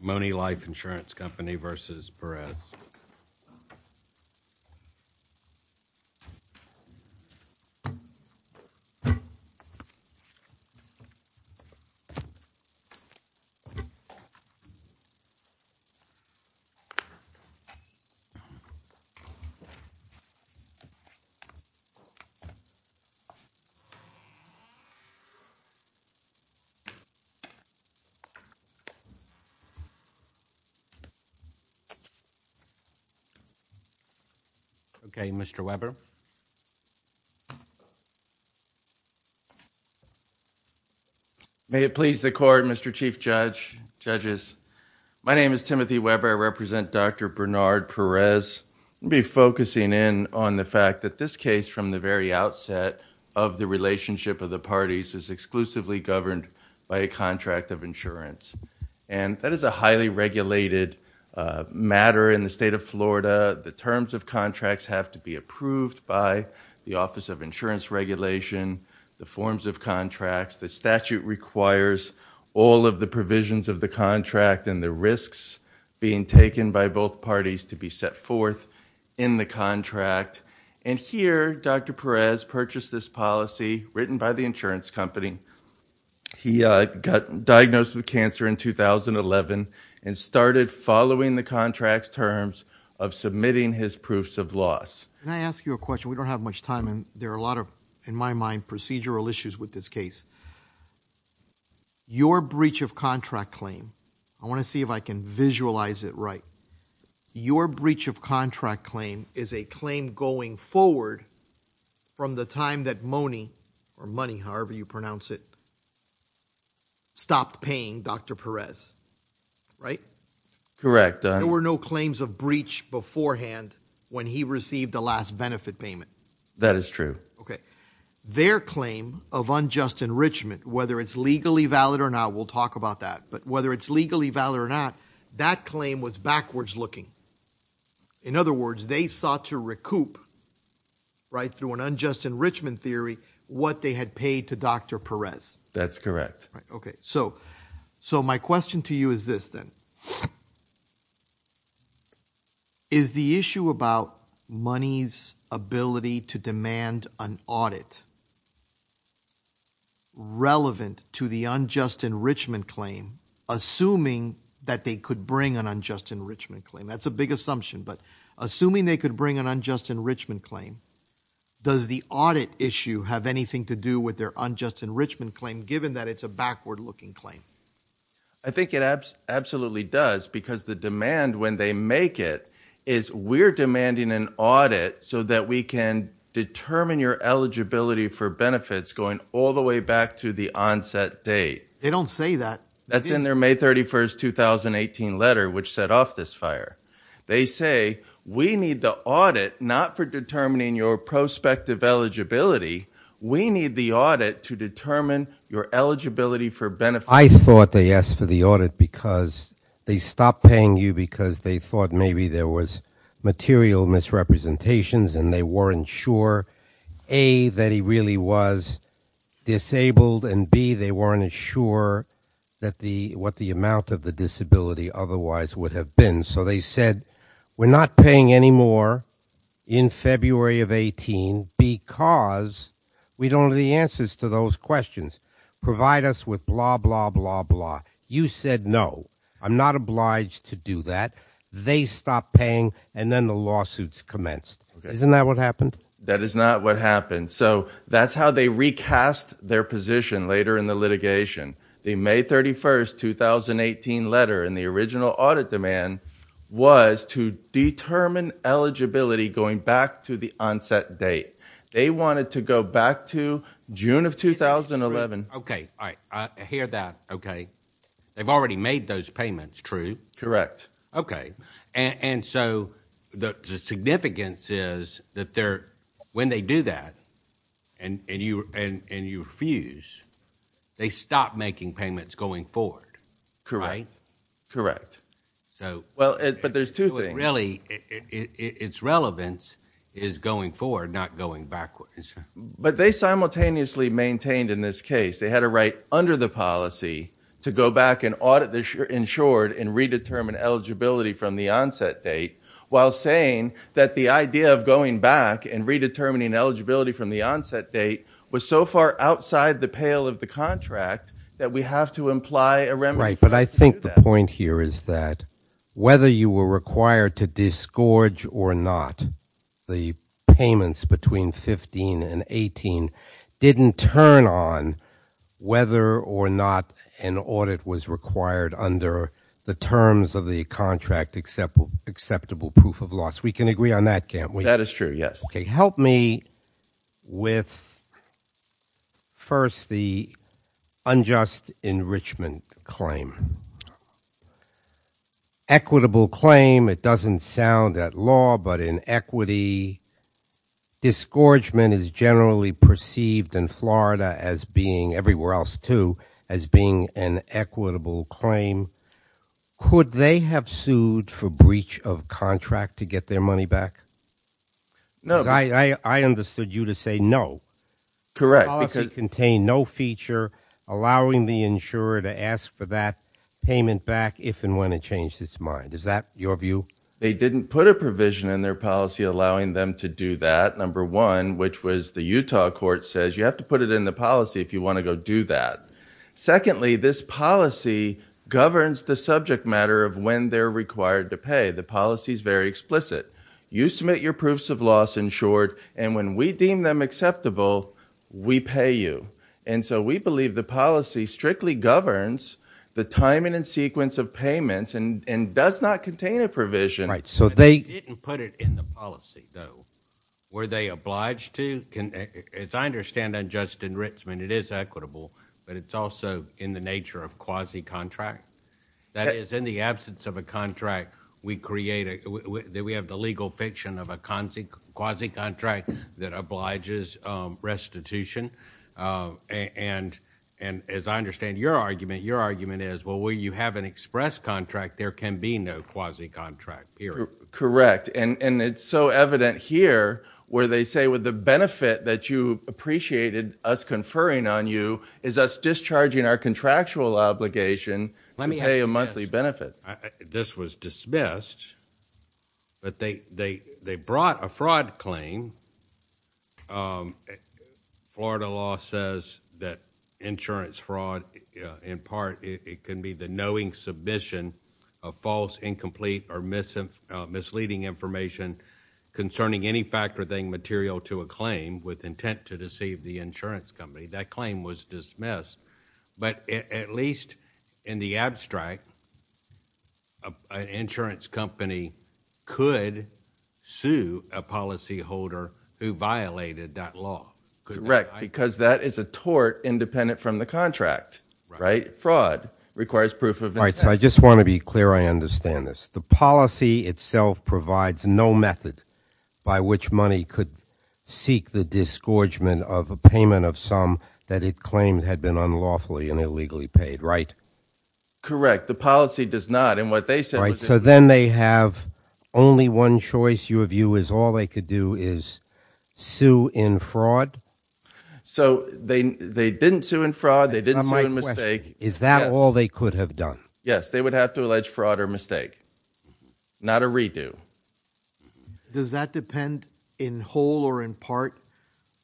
MONEY Life Insurance Company v. Perez May it please the Court, Mr. Chief Judge, Judges. My name is Timothy Weber. I represent Dr. Bernard Perez. I'll be focusing in on the fact that this case, from the very outset of the relationship of the parties, is exclusively governed by a contract of insurance. And that is a highly regulated matter in the state of Florida. The terms of contracts have to be approved by the Office of Insurance Regulation, the forms of contracts, the statute requires all of the provisions of the contract and the risks being taken by both parties to be set forth in the contract. And here, Dr. Perez purchased this policy written by the insurance company. He got diagnosed with cancer in 2011 and started following the contract's terms of submitting his proofs of loss. Can I ask you a question? We don't have much time and there are a lot of, in my mind, procedural issues with this case. Your breach of contract claim, I want to see if I can visualize it right. Your breach of contract claim is a claim going forward from the time that Money, or Money, however you pronounce it, stopped paying Dr. Perez, right? Correct. There were no claims of breach beforehand when he received the last benefit payment. That is true. Okay. Their claim of unjust enrichment, whether it's legally valid or not, we'll talk about that, but whether it's legally valid or not, that claim was backwards looking. In other words, they sought to recoup, right, through an unjust enrichment theory what they had paid to Dr. Perez. That's correct. Okay. So my question to you is this then. Is the issue about Money's ability to demand an audit relevant to the unjust enrichment claim assuming that they could bring an unjust enrichment claim? That's a big assumption, but assuming they could bring an unjust enrichment claim, does the audit issue have anything to do with their unjust enrichment claim given that it's a backward looking claim? I think it absolutely does because the demand when they make it is we're demanding an audit so that we can determine your eligibility for benefits going all the way back to the onset date. They don't say that. That's in their May 31st, 2018 letter which set off this fire. They say we need the audit not for determining your prospective eligibility. We need the audit to determine your eligibility for benefits. I thought they asked for the audit because they stopped paying you because they thought maybe there was material misrepresentations and they weren't sure A, that he really was disabled and B, they weren't sure what the amount of the disability otherwise would have been. So they said we're not paying anymore in February of 18 because we don't have the answers to those questions. Provide us with blah, blah, blah, blah. You said no. I'm not obliged to do that. They stopped paying and then the lawsuits commenced. Isn't that what happened? That is not what happened. So that's how they recast their position later in the litigation. The May 31st, 2018 letter in the original audit demand was to determine eligibility going back to the onset date. They wanted to go back to June of 2011. Okay. I hear that. They've already made those payments, true? Okay. So the significance is that when they do that and you refuse, they stop making payments going forward, right? Correct. But there's two things. Its relevance is going forward, not going backwards. But they simultaneously maintained in this case, they had a right under the policy to go back and audit the insured and redetermine eligibility from the onset date while saying that the idea of going back and redetermining eligibility from the onset date was so far outside the pale of the contract that we have to imply a remedy. But I think the point here is that whether you were required to disgorge or not the payments between 15 and 18 didn't turn on whether or not an audit was required under the terms of the contract acceptable proof of loss. We can agree on that, can't we? That is true, yes. Help me with first the unjust enrichment claim. Equitable claim, it doesn't sound at law, but in equity, disgorgement is generally perceived in Florida as being, everywhere else too, as being an equitable claim. Could they have sued for breach of contract to get their money back? No. Because I understood you to say no. Correct. The policy contained no feature allowing the insurer to ask for that payment back if and when it changed its mind. Is that your view? They didn't put a provision in their policy allowing them to do that, number one, which was the Utah court says you have to put it in the policy if you want to go do that. Secondly, this policy governs the subject matter of when they're required to pay. The policy is very explicit. You submit your proofs of loss, in short, and when we deem them acceptable, we pay you. And so we believe the policy strictly governs the timing and sequence of payments and does not contain a provision. So they didn't put it in the policy, though. Were they obliged to? As I understand unjust enrichment, it is equitable, but it's also in the nature of quasi-contract. That is, in the absence of a contract, we have the legal fiction of a quasi-contract that obliges restitution. And as I understand your argument, your argument is, well, you have an express contract. There can be no quasi-contract, period. Correct. And it's so evident here where they say with the benefit that you appreciated us conferring on you is us discharging our contractual obligation to pay a monthly benefit. This was dismissed, but they brought a fraud claim. Florida law says that insurance fraud, in part, it can be the knowing submission of false, incomplete, or misleading information concerning any fact or thing material to a claim with intent to deceive the insurance company. That claim was dismissed. But at least in the abstract, an insurance company could sue a policyholder who violated that law. Correct, because that is a tort independent from the contract, right? Fraud requires proof of intent. All right, so I just want to be clear. I understand this. The policy itself provides no method by which money could seek the disgorgement of a payment of some that it claimed had been unlawfully and illegally paid, right? Correct. The policy does not. And what they said was that... So they didn't sue in fraud. They didn't sue in mistake. Is that all they could have done? Yes, they would have to allege fraud or mistake. Not a redo. Does that depend in whole or in part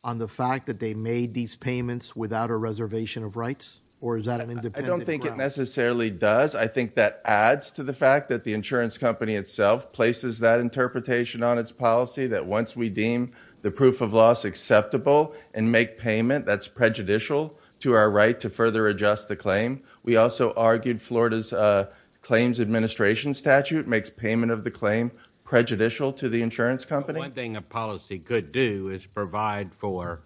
on the fact that they made these payments without a reservation of rights? Or is that an independent... I don't think it necessarily does. I think that adds to the fact that the insurance company itself places that interpretation on its policy, that once we deem the proof of loss acceptable and make payment, that's prejudicial to our right to further adjust the claim. We also argued Florida's claims administration statute makes payment of the claim prejudicial to the insurance company. One thing a policy could do is provide for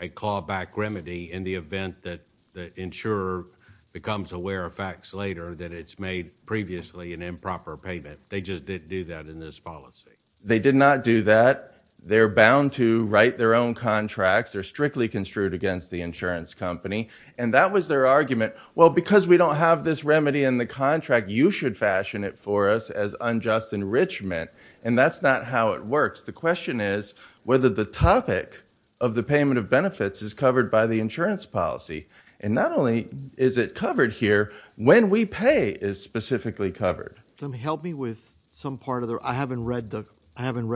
a callback remedy in the event that the insurer becomes aware of facts later that it's made previously an improper payment. They just didn't do that in this policy. They did not do that. They're bound to write their own contracts. They're strictly construed against the insurance company. And that was their argument. Well, because we don't have this remedy in the contract, you should fashion it for us as unjust enrichment. And that's not how it works. The question is whether the topic of the payment of benefits is covered by the insurance policy. And not only is it covered here, when we pay is specifically covered. Help me with some part of the... I haven't read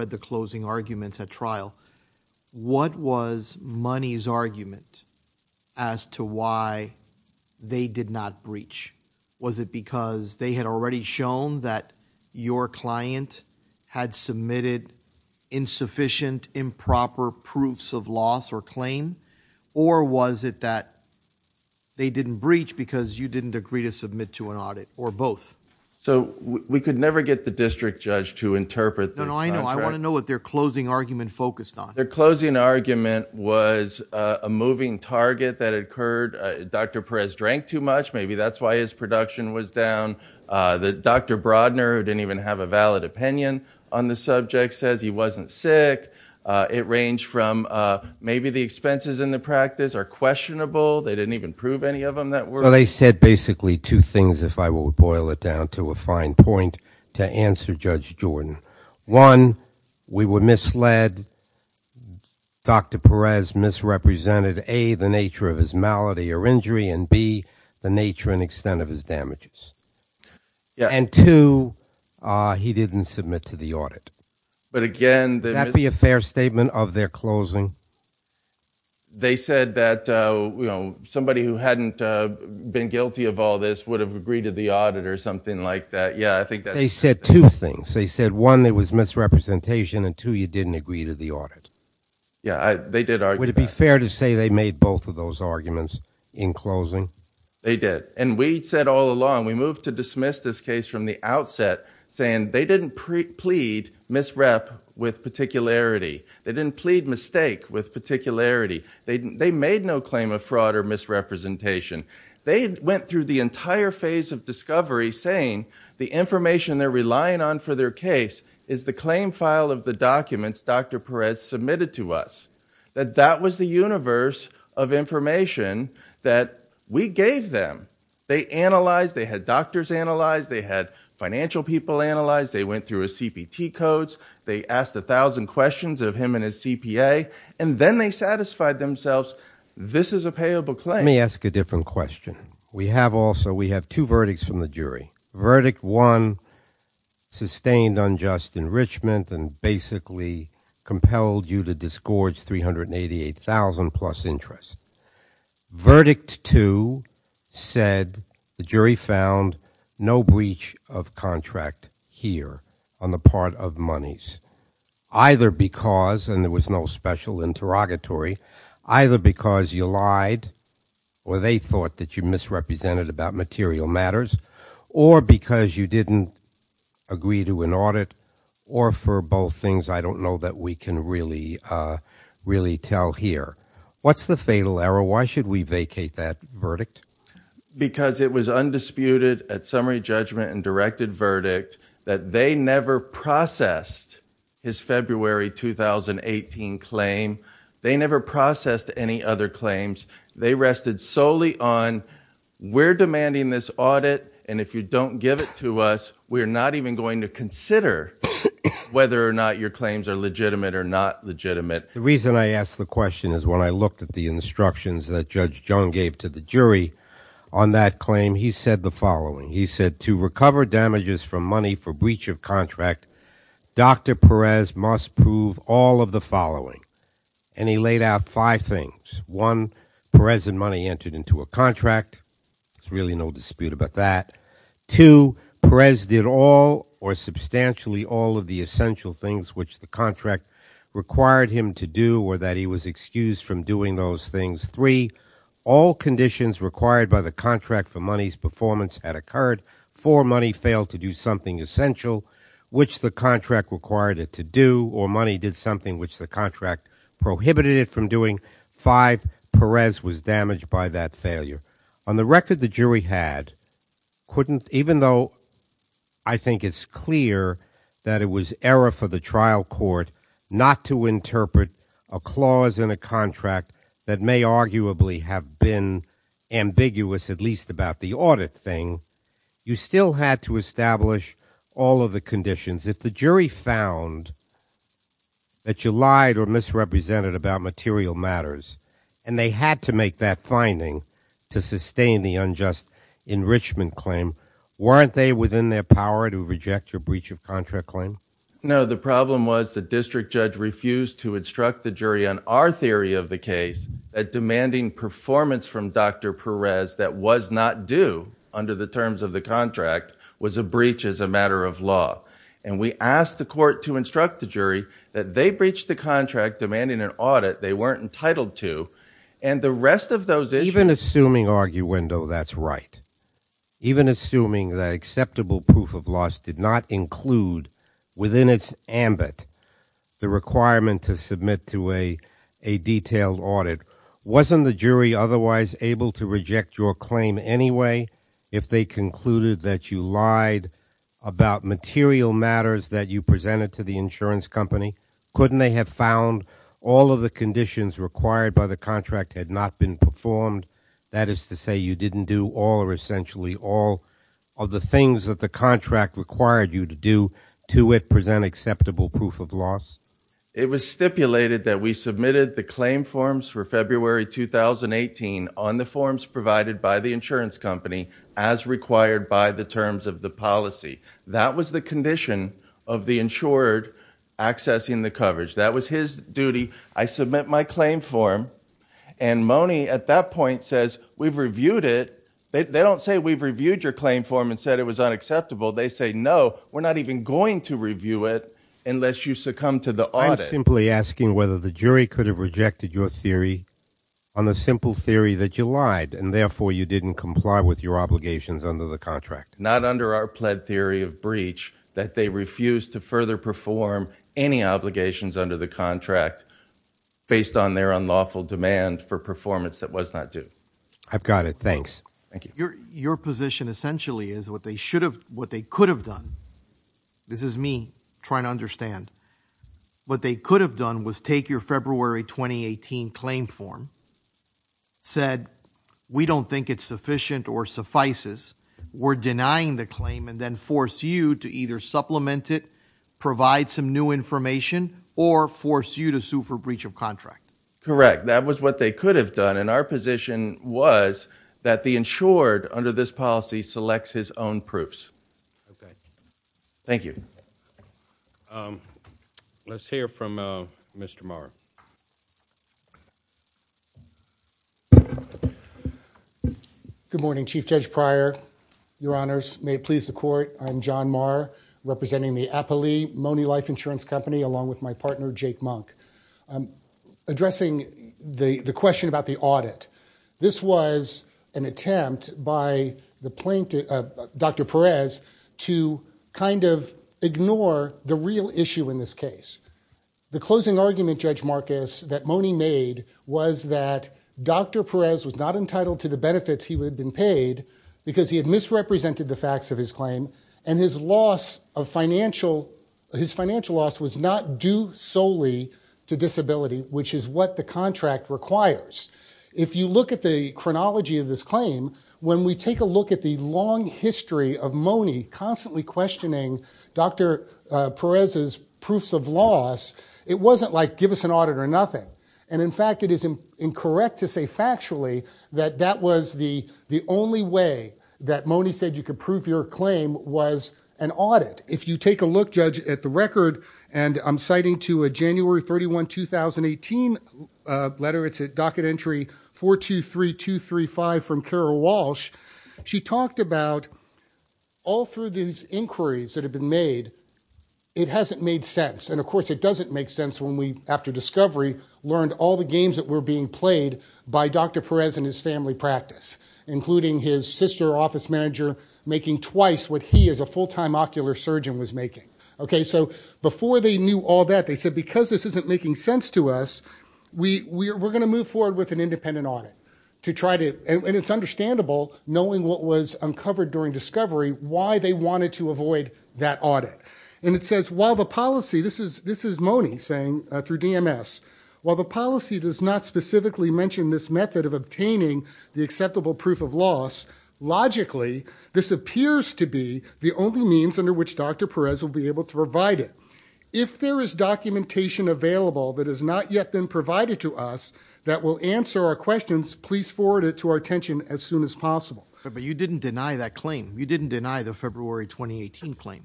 the closing arguments at trial. What was money's argument as to why they did not breach? Was it because they had already shown that your client had submitted insufficient, improper proofs of loss or claim? Or was it that they didn't breach because you didn't agree to submit to an audit or both? So we could never get the district judge to interpret the contract. No, no, I know. I want to know what their closing argument focused on. Their closing argument was a moving target that occurred. Dr. Perez drank too much. Maybe that's why his production was down. Dr. Brodner, who didn't even have a valid opinion on the project, says he wasn't sick. It ranged from maybe the expenses in the practice are questionable. They didn't even prove any of them that were. So they said basically two things, if I will boil it down to a fine point, to answer Judge Jordan. One, we were misled. Dr. Perez misrepresented A, the nature of his malady or injury, and B, the nature and extent of his damages. And two, he didn't submit to the audit. Would that be a fair statement of their closing? They said that somebody who hadn't been guilty of all this would have agreed to the audit or something like that. They said two things. They said one, there was misrepresentation, and two, you didn't agree to the audit. Yeah, they did argue that. Would it be fair to say they made both of those arguments in closing? They did. And we said all along, we moved to dismiss this case from the outset saying they didn't plead misrep with particularity. They didn't plead mistake with particularity. They made no claim of fraud or misrepresentation. They went through the entire phase of discovery saying the information they're relying on for their case is the claim file of the documents Dr. Perez submitted to us, that that was the universe of information that we gave them. They analyzed, they had doctors analyze, they had financial people analyze, they went through his CPT codes, they asked a thousand questions of him and his CPA, and then they satisfied themselves, this is a payable claim. Let me ask a different question. We have also, we have two verdicts from the jury. Verdict one, sustained unjust enrichment and basically compelled you to disgorge $388,000 plus interest. Verdict two said the jury found no breach of contract here on the part of monies. Either because, and there was no special interrogatory, either because you lied or they thought that you misrepresented about material matters, or because you didn't agree to an audit, or for both things I don't know that we can really tell here. What's the fatal error? Why should we vacate that verdict? Because it was undisputed at summary judgment and directed verdict that they never processed his February 2018 claim. They never processed any other claims. They rested solely on, we're demanding this audit and if you don't give it to us, we're not even going to consider whether or not your claims are legitimate or not legitimate. The reason I ask the question is when I looked at the instructions that Judge Jung gave to the jury on that claim, he said the following. He said to recover damages from money for breach of contract, Dr. Perez must prove all of the following. And he laid out five things. One, Perez and money entered into a contract, there's really no dispute about that. Two, Perez did all or substantially all of the essential things which the contract required him to do or that he was excused from doing those things. Three, all conditions required by the contract for money's performance had occurred. Four, money failed to do something essential which the contract required it to do or money did something which the contract prohibited it from doing. Five, Perez was damaged by that failure. On the record the jury had, couldn't, even though I think it's clear that it was error for the trial court not to interpret a clause in a contract that may arguably have been ambiguous at least about the audit thing, you still had to establish all of the conditions. If the jury found that you lied or misrepresented about material matters and they had to make that finding to sustain the unjust enrichment claim, weren't they within their power to reject your breach of contract claim? No, the problem was the district judge refused to instruct the jury on our theory of the case that demanding performance from Dr. Perez that was not due under the terms of the contract was a breach as a matter of law. And we asked the court to instruct the jury that they breached the contract demanding an audit they weren't entitled to and the rest of those issues. Even assuming arguendo that's right. Even assuming that acceptable proof of loss did not include within its ambit the requirement to submit to a detailed audit, wasn't the jury otherwise able to reject your claim anyway if they concluded that you lied about material matters that you presented to the insurance company? Couldn't they have found all of the conditions required by the contract had not been performed? That is to say you didn't do all or essentially all of the things that the contract required you to do to present acceptable proof of loss? It was stipulated that we submitted the claim forms for February 2018 on the forms provided by the insurance company as required by the terms of the policy. That was the condition of the insured accessing the coverage. That was his duty. I submit my claim form and Mone at that point says we've reviewed it. They don't say we've reviewed your claim form and said it was unacceptable. They say no, we're not even going to review it unless you succumb to the audit. I'm simply asking whether the jury could have rejected your theory on the simple theory that you lied and therefore you didn't comply with your obligations under the contract. Not under our pled theory of breach that they refused to further perform any obligations under the contract based on their unlawful demand for performance that was not due. I've got it. Thanks. Thank you. Your position essentially is what they should have, what they could have done. This is me trying to understand. What they could have done was take your February 2018 claim form, said we don't think it's sufficient or suffices, were denying the claim and then force you to either supplement it, provide some new information, or force you to sue for breach of contract. Correct. That was what they could have done. Our position was that the insured under this policy selects his own proofs. Thank you. Let's hear from Mr. Marra. Good morning, Chief Judge Pryor. Your honors, may it please the court, I'm John Marra, representing the Apolli Money Life Insurance Company along with my partner Jake Monk. I'm addressing the question about the audit. This was an attempt by the plaintiff, Dr. Perez, to kind of ignore the real issue in this case. The closing argument, Judge Marcus, that Mone made was that Dr. Perez was not entitled to the benefits he had been paid because he had misrepresented the facts of his claim and his loss of financial, his financial loss was not due solely to disability, which is what the contract requires. If you look at the chronology of this claim, when we take a look at the long history of Mone constantly questioning Dr. Perez's proofs of loss, it wasn't like, give us an audit or nothing. In fact, it is incorrect to say factually that that was the only way that Mone said you could prove your claim was an audit. If you take a look, Judge, at the record, and I'm citing to a January 31, 2018 letter, it's at docket entry 423235 from Carol Walsh, she talked about all through these inquiries that have been made, it hasn't made sense. And of course, it doesn't make sense when we, after discovery, learned all the games that were being played by Dr. Perez and his family practice, including his sister office manager making twice what he as a full-time ocular surgeon was making. Okay, so before they knew all that, they said, because this isn't making sense to us, we're going to move forward with an independent audit to try to, and it's understandable, knowing what was uncovered during discovery, why they wanted to avoid that audit. And it says, while the policy, this is Mone saying through DMS, while the policy does not specifically mention this method of obtaining the acceptable proof of loss, logically, this appears to be the only means under which Dr. Perez will be able to provide it. If there is documentation available that has not yet been provided to us that will answer our questions, please forward it to our attention as soon as possible. But you didn't deny that claim. You didn't deny the February 2018 claim.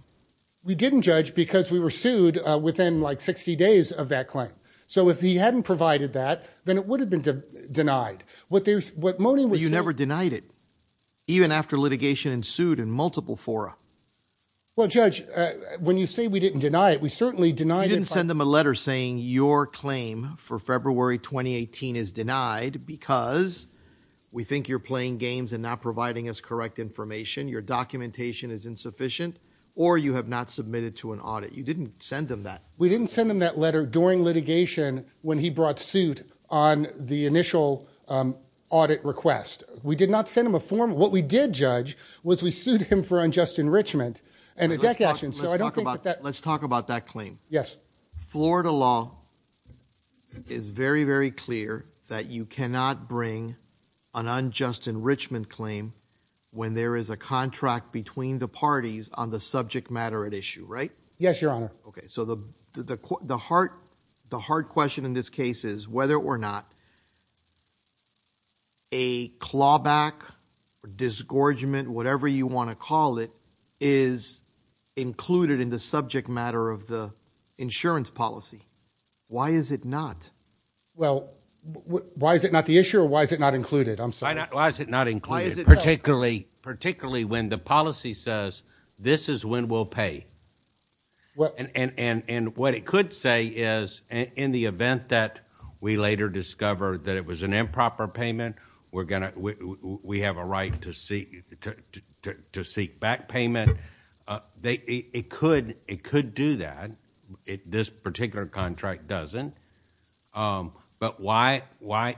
We didn't judge because we were sued within like 60 days of that claim. So if he hadn't provided that, then it would have been denied. What there's, what Mone was saying- But you never denied it, even after litigation ensued in multiple fora. Well, Judge, when you say we didn't deny it, we certainly denied it- You didn't send them a letter saying your claim for February 2018 is denied because we think you're playing games and not providing us correct information, your documentation is insufficient, or you have not submitted to an audit. You didn't send them that. We didn't send them that letter during litigation when he brought suit on the initial audit request. We did not send him a form. What we did judge was we sued him for unjust enrichment and a deck action, so I don't think that that- Let's talk about that claim. Yes. Florida law is very, very clear that you cannot bring an unjust enrichment claim when there is a contract between the parties on the subject matter at issue, right? Yes, Your Honor. Okay. So the hard question in this case is whether or not a clawback, a disgorgement, whatever you want to call it, is included in the subject matter of the insurance policy. Why is it not? Well, why is it not the issue, or why is it not included? I'm sorry. Why is it not included, particularly when the policy says this is when we'll pay? What it could say is in the event that we later discover that it was an improper payment, we have a right to seek back payment, it could do that. This particular contract doesn't, but why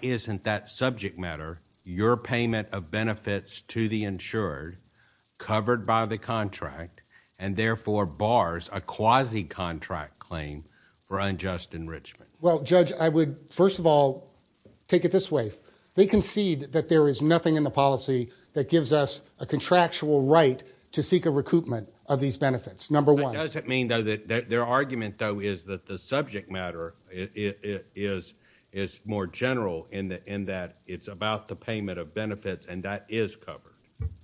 isn't that subject matter, your payment of benefits to the insured, covered by the contract, and therefore bars a quasi-contract claim for unjust enrichment? Well, Judge, I would, first of all, take it this way. They concede that there is nothing in the policy that gives us a contractual right to seek a recoupment of these benefits, number one. But does it mean, though, that their argument, though, is that the subject matter is more general in that it's about the payment of benefits, and that is covered?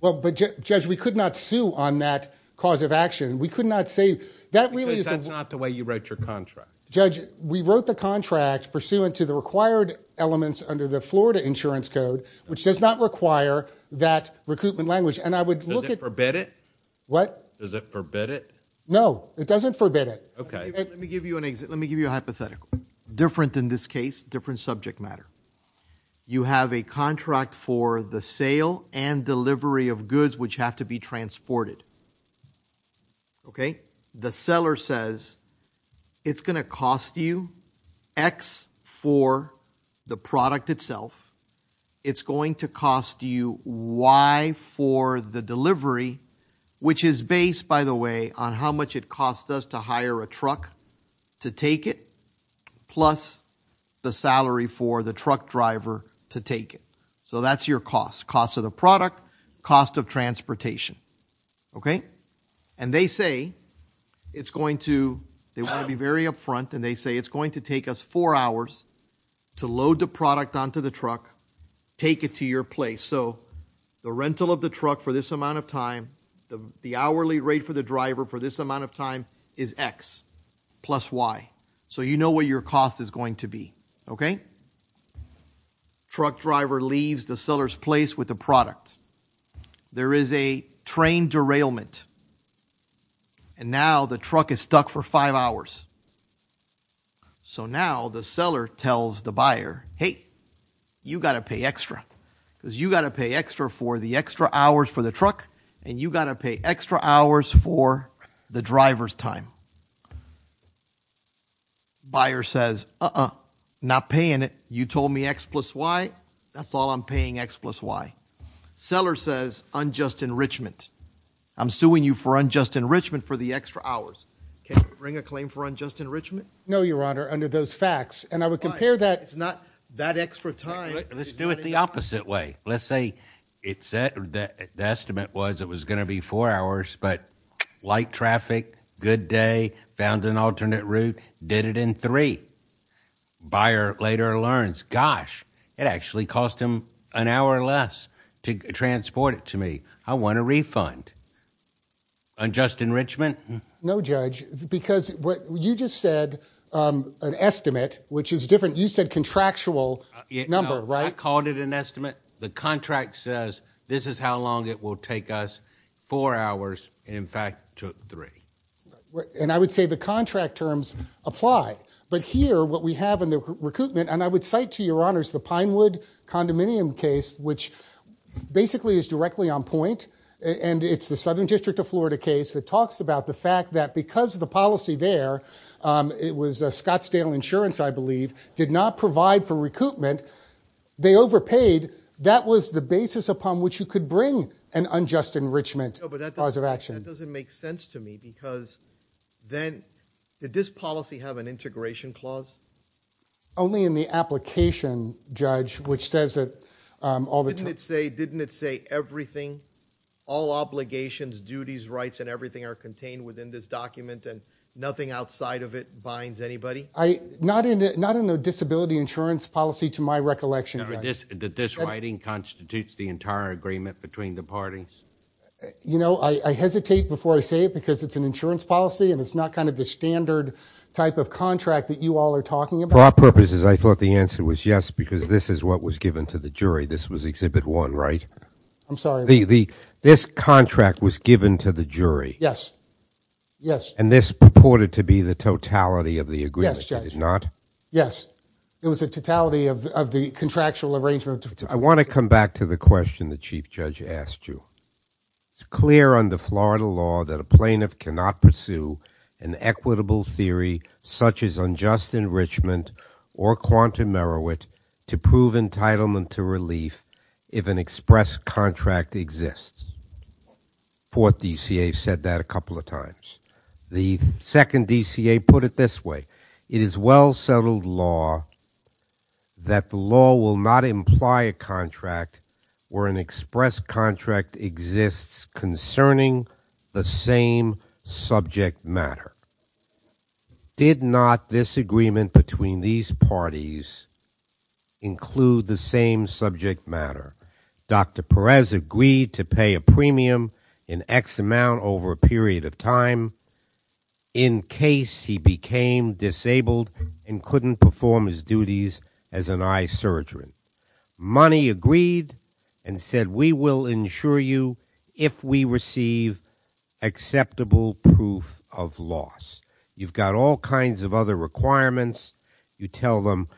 Well, Judge, we could not sue on that cause of action. We could not say... Because that's not the way you wrote your contract. Judge, we wrote the contract pursuant to the required elements under the Florida Insurance Code, which does not require that recoupment language. And I would look at... Does it forbid it? What? Does it forbid it? No. It doesn't forbid it. Okay. Let me give you a hypothetical. Different in this case, different subject matter. You have a contract for the sale and delivery of goods which have to be transported. Okay? The seller says it's going to cost you X for the product itself. It's going to cost you Y for the delivery, which is based, by the way, on how much it cost us to hire a truck to take it, plus the salary for the truck driver to take it. So that's your cost, cost of the product, cost of transportation. Okay? And they say it's going to... they want to be very upfront, and they say it's going to take us four hours to load the product onto the truck, take it to your place. So the rental of the truck for this amount of time, the hourly rate for the driver for this amount of time, is X plus Y. So you know what your cost is going to be, okay? Truck driver leaves the seller's place with the product. There is a train derailment, and now the truck is stuck for five hours. So now the seller tells the buyer, hey, you got to pay extra, because you got to pay extra for the extra hours for the truck, and you got to pay extra hours for the driver's time. Buyer says, uh-uh, not paying it. You told me X plus Y. That's all I'm paying, X plus Y. Seller says unjust enrichment. I'm suing you for unjust enrichment for the extra hours. Can you bring a claim for unjust enrichment? No, Your Honor, under those facts. And I would compare that... But it's not that extra time... Let's do it the opposite way. Let's say the estimate was it was going to be four hours, but light traffic, good day, found an alternate route, did it in three. Buyer later learns, gosh, it actually cost him an hour less to transport it to me. I want a refund. Unjust enrichment? No, Judge, because what you just said, an estimate, which is different. You said contractual number, right? I called it an estimate. The contract says this is how long it will take us, four hours, and in fact took three. And I would say the contract terms apply. But here, what we have in the recoupment, and I would cite to Your Honors the Pinewood condominium case, which basically is directly on point. And it's the Southern District of Florida case that talks about the fact that because of the policy there, it was Scottsdale Insurance, I believe, did not provide for recoupment. And they overpaid. That was the basis upon which you could bring an unjust enrichment clause of action. No, but that doesn't make sense to me, because then did this policy have an integration clause? Only in the application, Judge, which says that all the time. Didn't it say everything, all obligations, duties, rights, and everything are contained within this document, and nothing outside of it binds anybody? Not in a disability insurance policy, to my recollection, Judge. That this writing constitutes the entire agreement between the parties? You know, I hesitate before I say it, because it's an insurance policy, and it's not kind of the standard type of contract that you all are talking about. For our purposes, I thought the answer was yes, because this is what was given to the jury. This was Exhibit 1, right? I'm sorry. This contract was given to the jury? Yes. Yes. And this purported to be the totality of the agreement? It did not? Yes. It was a totality of the contractual arrangement. I want to come back to the question the Chief Judge asked you. It's clear under Florida law that a plaintiff cannot pursue an equitable theory such as unjust enrichment or quantum merowit to prove entitlement to relief if an express contract exists. Fourth DCA said that a couple of times. The second DCA put it this way, it is well-settled law that the law will not imply a contract where an express contract exists concerning the same subject matter. Did not this agreement between these parties include the same subject matter? Dr. Perez agreed to pay a premium in X amount over a period of time in case he became disabled and couldn't perform his duties as an eye surgeon. Money agreed and said we will insure you if we receive acceptable proof of loss. You've got all kinds of other requirements. You tell them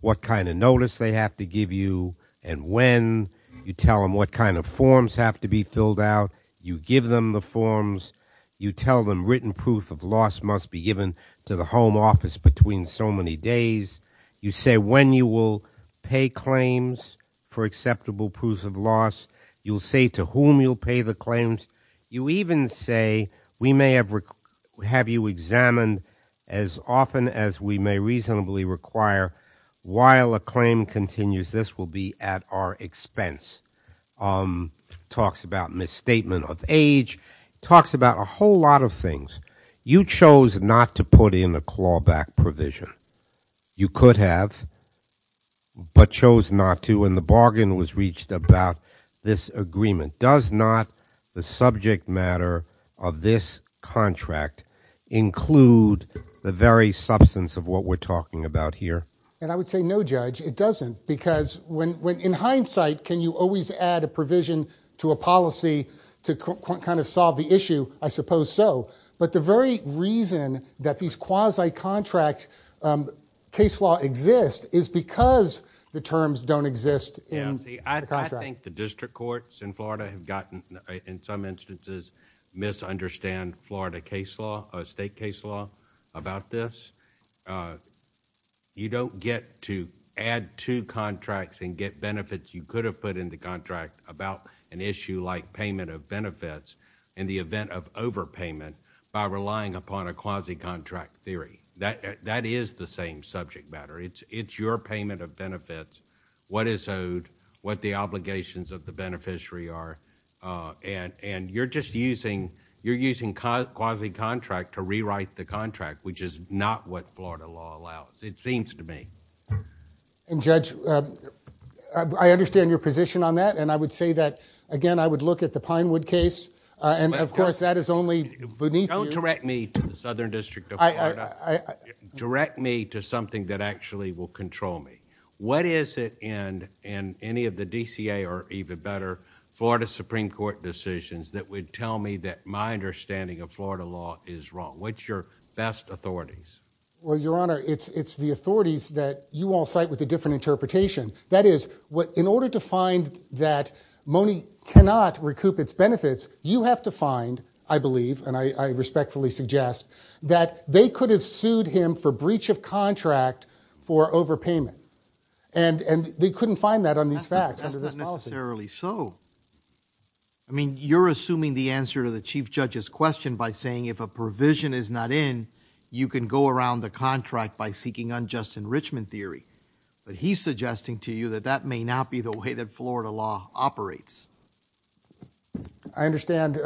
what kind of notice they have to give you. And when you tell them what kind of forms have to be filled out. You give them the forms. You tell them written proof of loss must be given to the home office between so many days. You say when you will pay claims for acceptable proof of loss. You'll say to whom you'll pay the claims. You even say we may have you examined as often as we may reasonably require while a claim continues this will be at our expense. Talks about misstatement of age. Talks about a whole lot of things. You chose not to put in a clawback provision. You could have, but chose not to and the bargain was reached about this agreement. Does not the subject matter of this contract include the very substance of what we're talking about here? And I would say no, judge. It doesn't because when in hindsight can you always add a provision to a policy to kind of solve the issue? I suppose so. But the very reason that these quasi contract case law exist is because the terms don't exist. Yeah, I think the district courts in Florida have gotten in some instances misunderstand Florida case law, a state case law about this. You don't get to add two contracts and get benefits you could have put in the contract about an issue like payment of benefits in the event of overpayment by relying upon a quasi contract theory. That is the same subject matter. It's your payment of benefits, what is owed, what the obligations of the beneficiary are, and you're just using quasi contract to rewrite the contract, which is not what Florida law allows, it seems to me. And judge, I understand your position on that, and I would say that, again, I would look at the Pinewood case, and of course that is only beneath you. Don't direct me to the Southern District of Florida, direct me to something that actually will control me. What is it in any of the DCA, or even better, Florida Supreme Court decisions that would tell me that my understanding of Florida law is wrong? What's your best authorities? Well, your honor, it's the authorities that you all cite with a different interpretation. That is, in order to find that Mone cannot recoup its benefits, you have to find, I believe, and I respectfully suggest, that they could have sued him for breach of contract for overpayment. And they couldn't find that on these facts, under this policy. That's not necessarily so. I mean, you're assuming the answer to the chief judge's question by saying if a provision is not in, you can go around the contract by seeking unjust enrichment theory. But he's suggesting to you that that may not be the way that Florida law operates. I understand.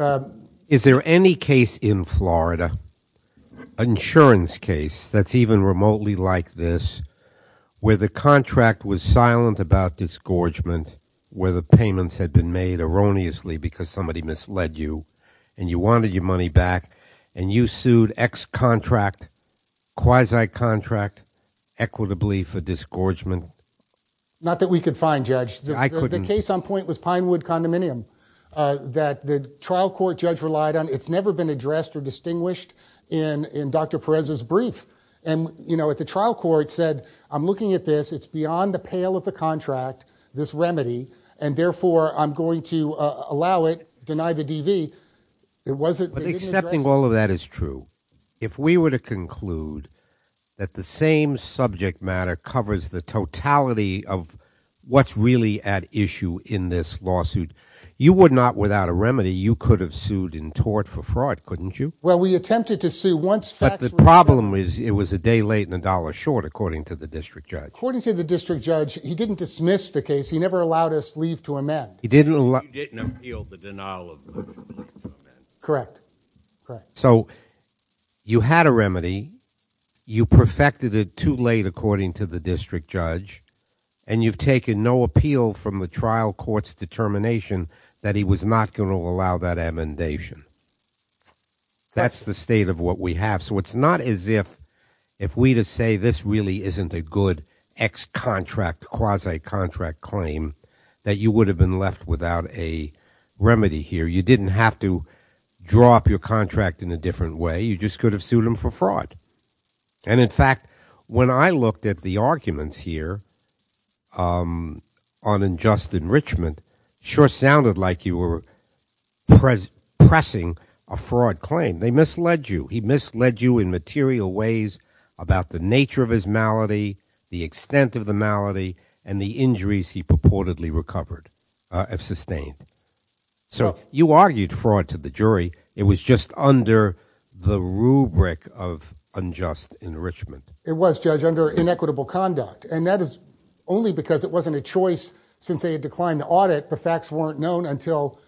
Is there any case in Florida, insurance case that's even remotely like this, where the contract was silent about disgorgement, where the payments had been made erroneously because somebody misled you, and you wanted your money back, and you sued X contract, quasi-contract, equitably for disgorgement? Not that we could find, Judge. The case on point was Pinewood Condominium, that the trial court judge relied on. It's never been addressed or distinguished in Dr. Perez's brief. And at the trial court said, I'm looking at this, it's beyond the pale of the contract, this remedy. And therefore, I'm going to allow it, deny the DV. It wasn't- But accepting all of that is true. If we were to conclude that the same subject matter covers the totality of what's really at issue in this lawsuit, you would not, without a remedy, you could have sued in tort for fraud, couldn't you? Well, we attempted to sue once- But the problem is, it was a day late and a dollar short, according to the district judge. According to the district judge, he didn't dismiss the case. He never allowed us leave to amend. He didn't allow- He didn't appeal the denial of leave to amend. Correct, correct. So, you had a remedy. You perfected it too late, according to the district judge. And you've taken no appeal from the trial court's determination that he was not going to allow that amendation. That's the state of what we have. So, it's not as if we just say, this really isn't a good ex-contract, quasi-contract claim that you would have been left without a remedy here. You didn't have to draw up your contract in a different way. You just could have sued him for fraud. And in fact, when I looked at the arguments here on unjust enrichment, sure sounded like you were pressing a fraud claim. They misled you. He misled you in material ways about the nature of his malady, the extent of the malady, and the injuries he purportedly recovered, have sustained. So, you argued fraud to the jury. It was just under the rubric of unjust enrichment. It was, Judge, under inequitable conduct. And that is only because it wasn't a choice since they had declined the audit. The facts weren't known until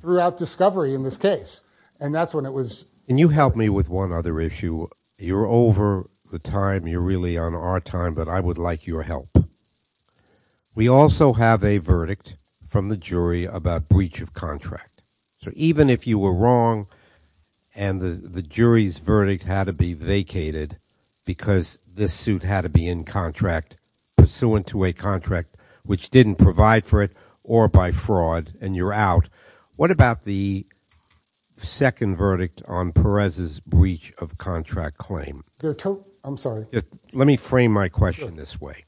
throughout discovery in this case. And that's when it was- And you helped me with one other issue. You're over the time, you're really on our time, but I would like your help. We also have a verdict from the jury about breach of contract. So even if you were wrong and the jury's verdict had to be vacated because this suit had to be in contract pursuant to a contract which didn't provide for it or by fraud. And you're out. What about the second verdict on Perez's breach of contract claim? There are two, I'm sorry. Let me frame my question this way.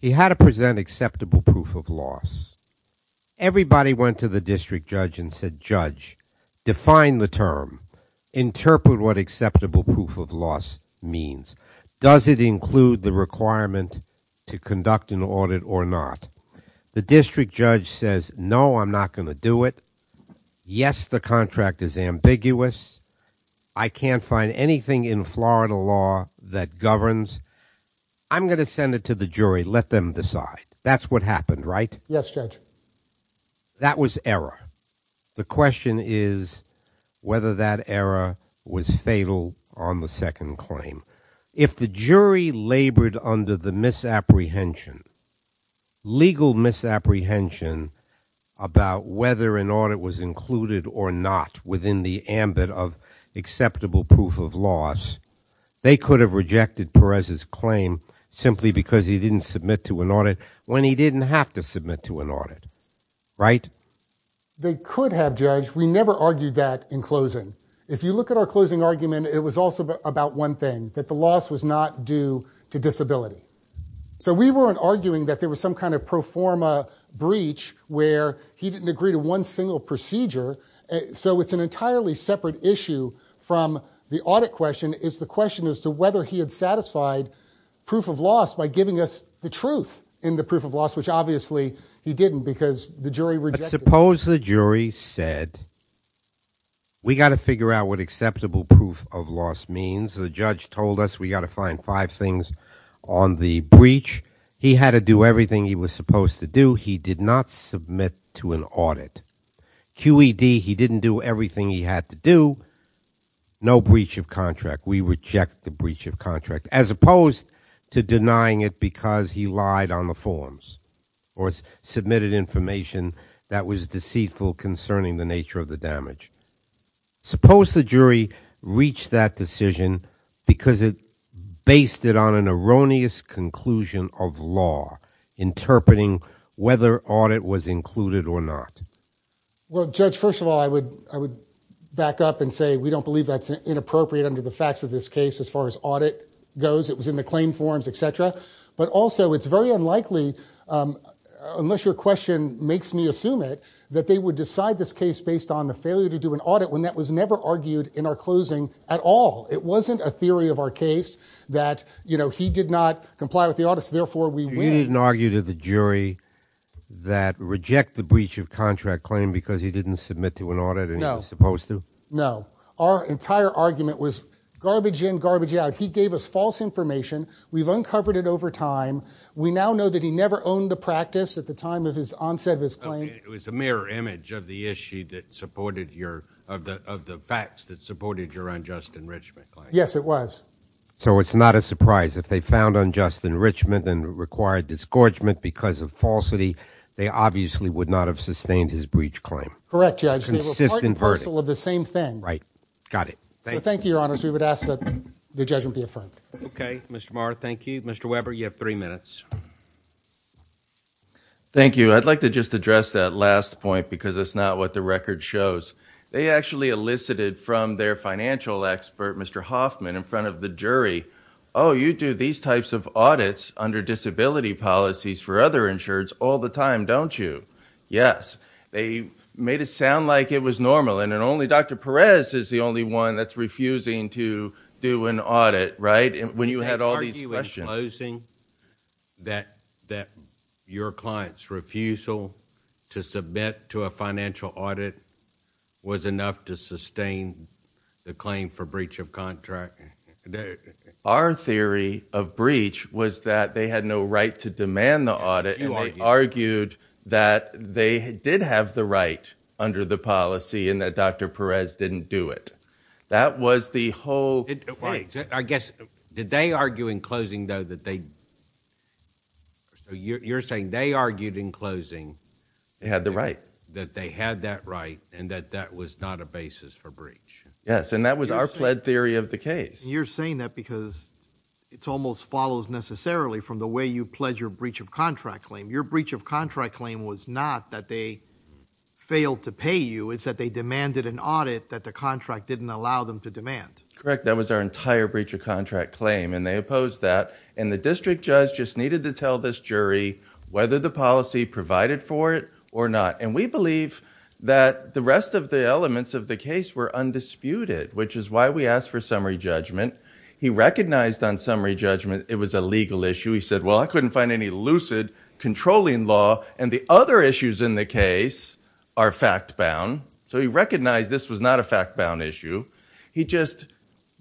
He had to present acceptable proof of loss. Everybody went to the district judge and said, judge, define the term. Interpret what acceptable proof of loss means. Does it include the requirement to conduct an audit or not? The district judge says, no, I'm not going to do it. Yes, the contract is ambiguous. I can't find anything in Florida law that governs. I'm going to send it to the jury, let them decide. That's what happened, right? Yes, Judge. That was error. The question is whether that error was fatal on the second claim. If the jury labored under the misapprehension, legal misapprehension about whether an audit was included or not within the ambit of acceptable proof of loss, they could have rejected Perez's claim simply because he didn't submit to an audit when he didn't have to submit to an audit, right? They could have, Judge. We never argued that in closing. If you look at our closing argument, it was also about one thing, that the loss was not due to disability. So we weren't arguing that there was some kind of pro forma breach where he didn't agree to one single procedure. So it's an entirely separate issue from the audit question. It's the question as to whether he had satisfied proof of loss by giving us the truth in the proof of loss, which obviously he didn't, because the jury rejected it. Suppose the jury said, we got to figure out what acceptable proof of loss means. The judge told us we got to find five things on the breach. He had to do everything he was supposed to do. He did not submit to an audit. QED, he didn't do everything he had to do. No breach of contract. We reject the breach of contract. As opposed to denying it because he lied on the forms. Or submitted information that was deceitful concerning the nature of the damage. Suppose the jury reached that decision because it based it on an erroneous conclusion of law, interpreting whether audit was included or not. Well, Judge, first of all, I would back up and say we don't believe that's inappropriate under the facts of this case. As far as audit goes, it was in the claim forms, etc. But also, it's very unlikely, unless your question makes me assume it, that they would decide this case based on the failure to do an audit when that was never argued in our closing at all. It wasn't a theory of our case that he did not comply with the audits, therefore we win. You didn't argue to the jury that reject the breach of contract claim because he didn't submit to an audit and he was supposed to? Our entire argument was garbage in, garbage out. He gave us false information. We've uncovered it over time. We now know that he never owned the practice at the time of his onset of his claim. It was a mirror image of the issue that supported your, of the facts that supported your unjust enrichment claim. Yes, it was. So it's not a surprise if they found unjust enrichment and required disgorgement because of falsity, they obviously would not have sustained his breach claim. Correct, Judge. Consistent verdict. They were part and parcel of the same thing. Right, got it. Thank you. So thank you, Your Honors. We would ask that the judgment be affirmed. Okay, Mr. Maher, thank you. Mr. Weber, you have three minutes. Thank you. I'd like to just address that last point because it's not what the record shows. They actually elicited from their financial expert, Mr. Hoffman, in front of the jury, oh, you do these types of audits under disability policies for other insureds all the time, don't you? Yes. They made it sound like it was normal and Dr. Perez is the only one that's refusing to do an audit, right? When you had all these questions. Did they argue in closing that your client's refusal to submit to a financial audit was enough to sustain the claim for breach of contract? Our theory of breach was that they had no right to demand the audit and they argued that they did have the right under the policy and that Dr. Perez didn't do it. That was the whole case. I guess, did they argue in closing though that they, you're saying they argued in closing. They had the right. That they had that right and that that was not a basis for breach. Yes, and that was our pled theory of the case. You're saying that because it almost follows necessarily from the way you pledge your breach of contract claim. Your breach of contract claim was not that they failed to pay you, it's that they demanded an audit that the contract didn't allow them to demand. Correct, that was our entire breach of contract claim and they opposed that. And the district judge just needed to tell this jury whether the policy provided for it or not. And we believe that the rest of the elements of the case were undisputed, which is why we asked for summary judgment. He recognized on summary judgment it was a legal issue. He said, well, I couldn't find any lucid controlling law and the other issues in the case are fact bound. So he recognized this was not a fact bound issue. He just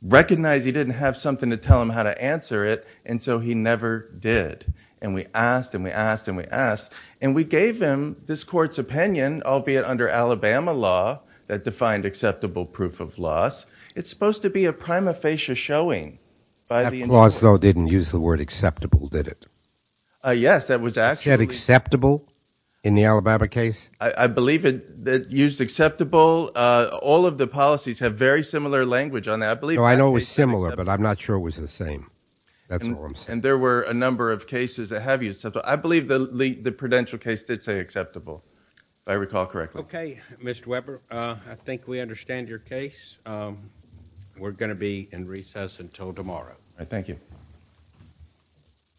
recognized he didn't have something to tell him how to answer it, and so he never did. And we asked, and we asked, and we asked. And we gave him this court's opinion, albeit under Alabama law that defined acceptable proof of loss. It's supposed to be a prima facie showing by the- That clause though didn't use the word acceptable, did it? Yes, that was actually- In the Alabama case? I believe it used acceptable. All of the policies have very similar language on that. I believe- I know it's similar, but I'm not sure it was the same. That's all I'm saying. And there were a number of cases that have used acceptable. I believe the Prudential case did say acceptable, if I recall correctly. Okay, Mr. Weber, I think we understand your case. We're gonna be in recess until tomorrow. I thank you.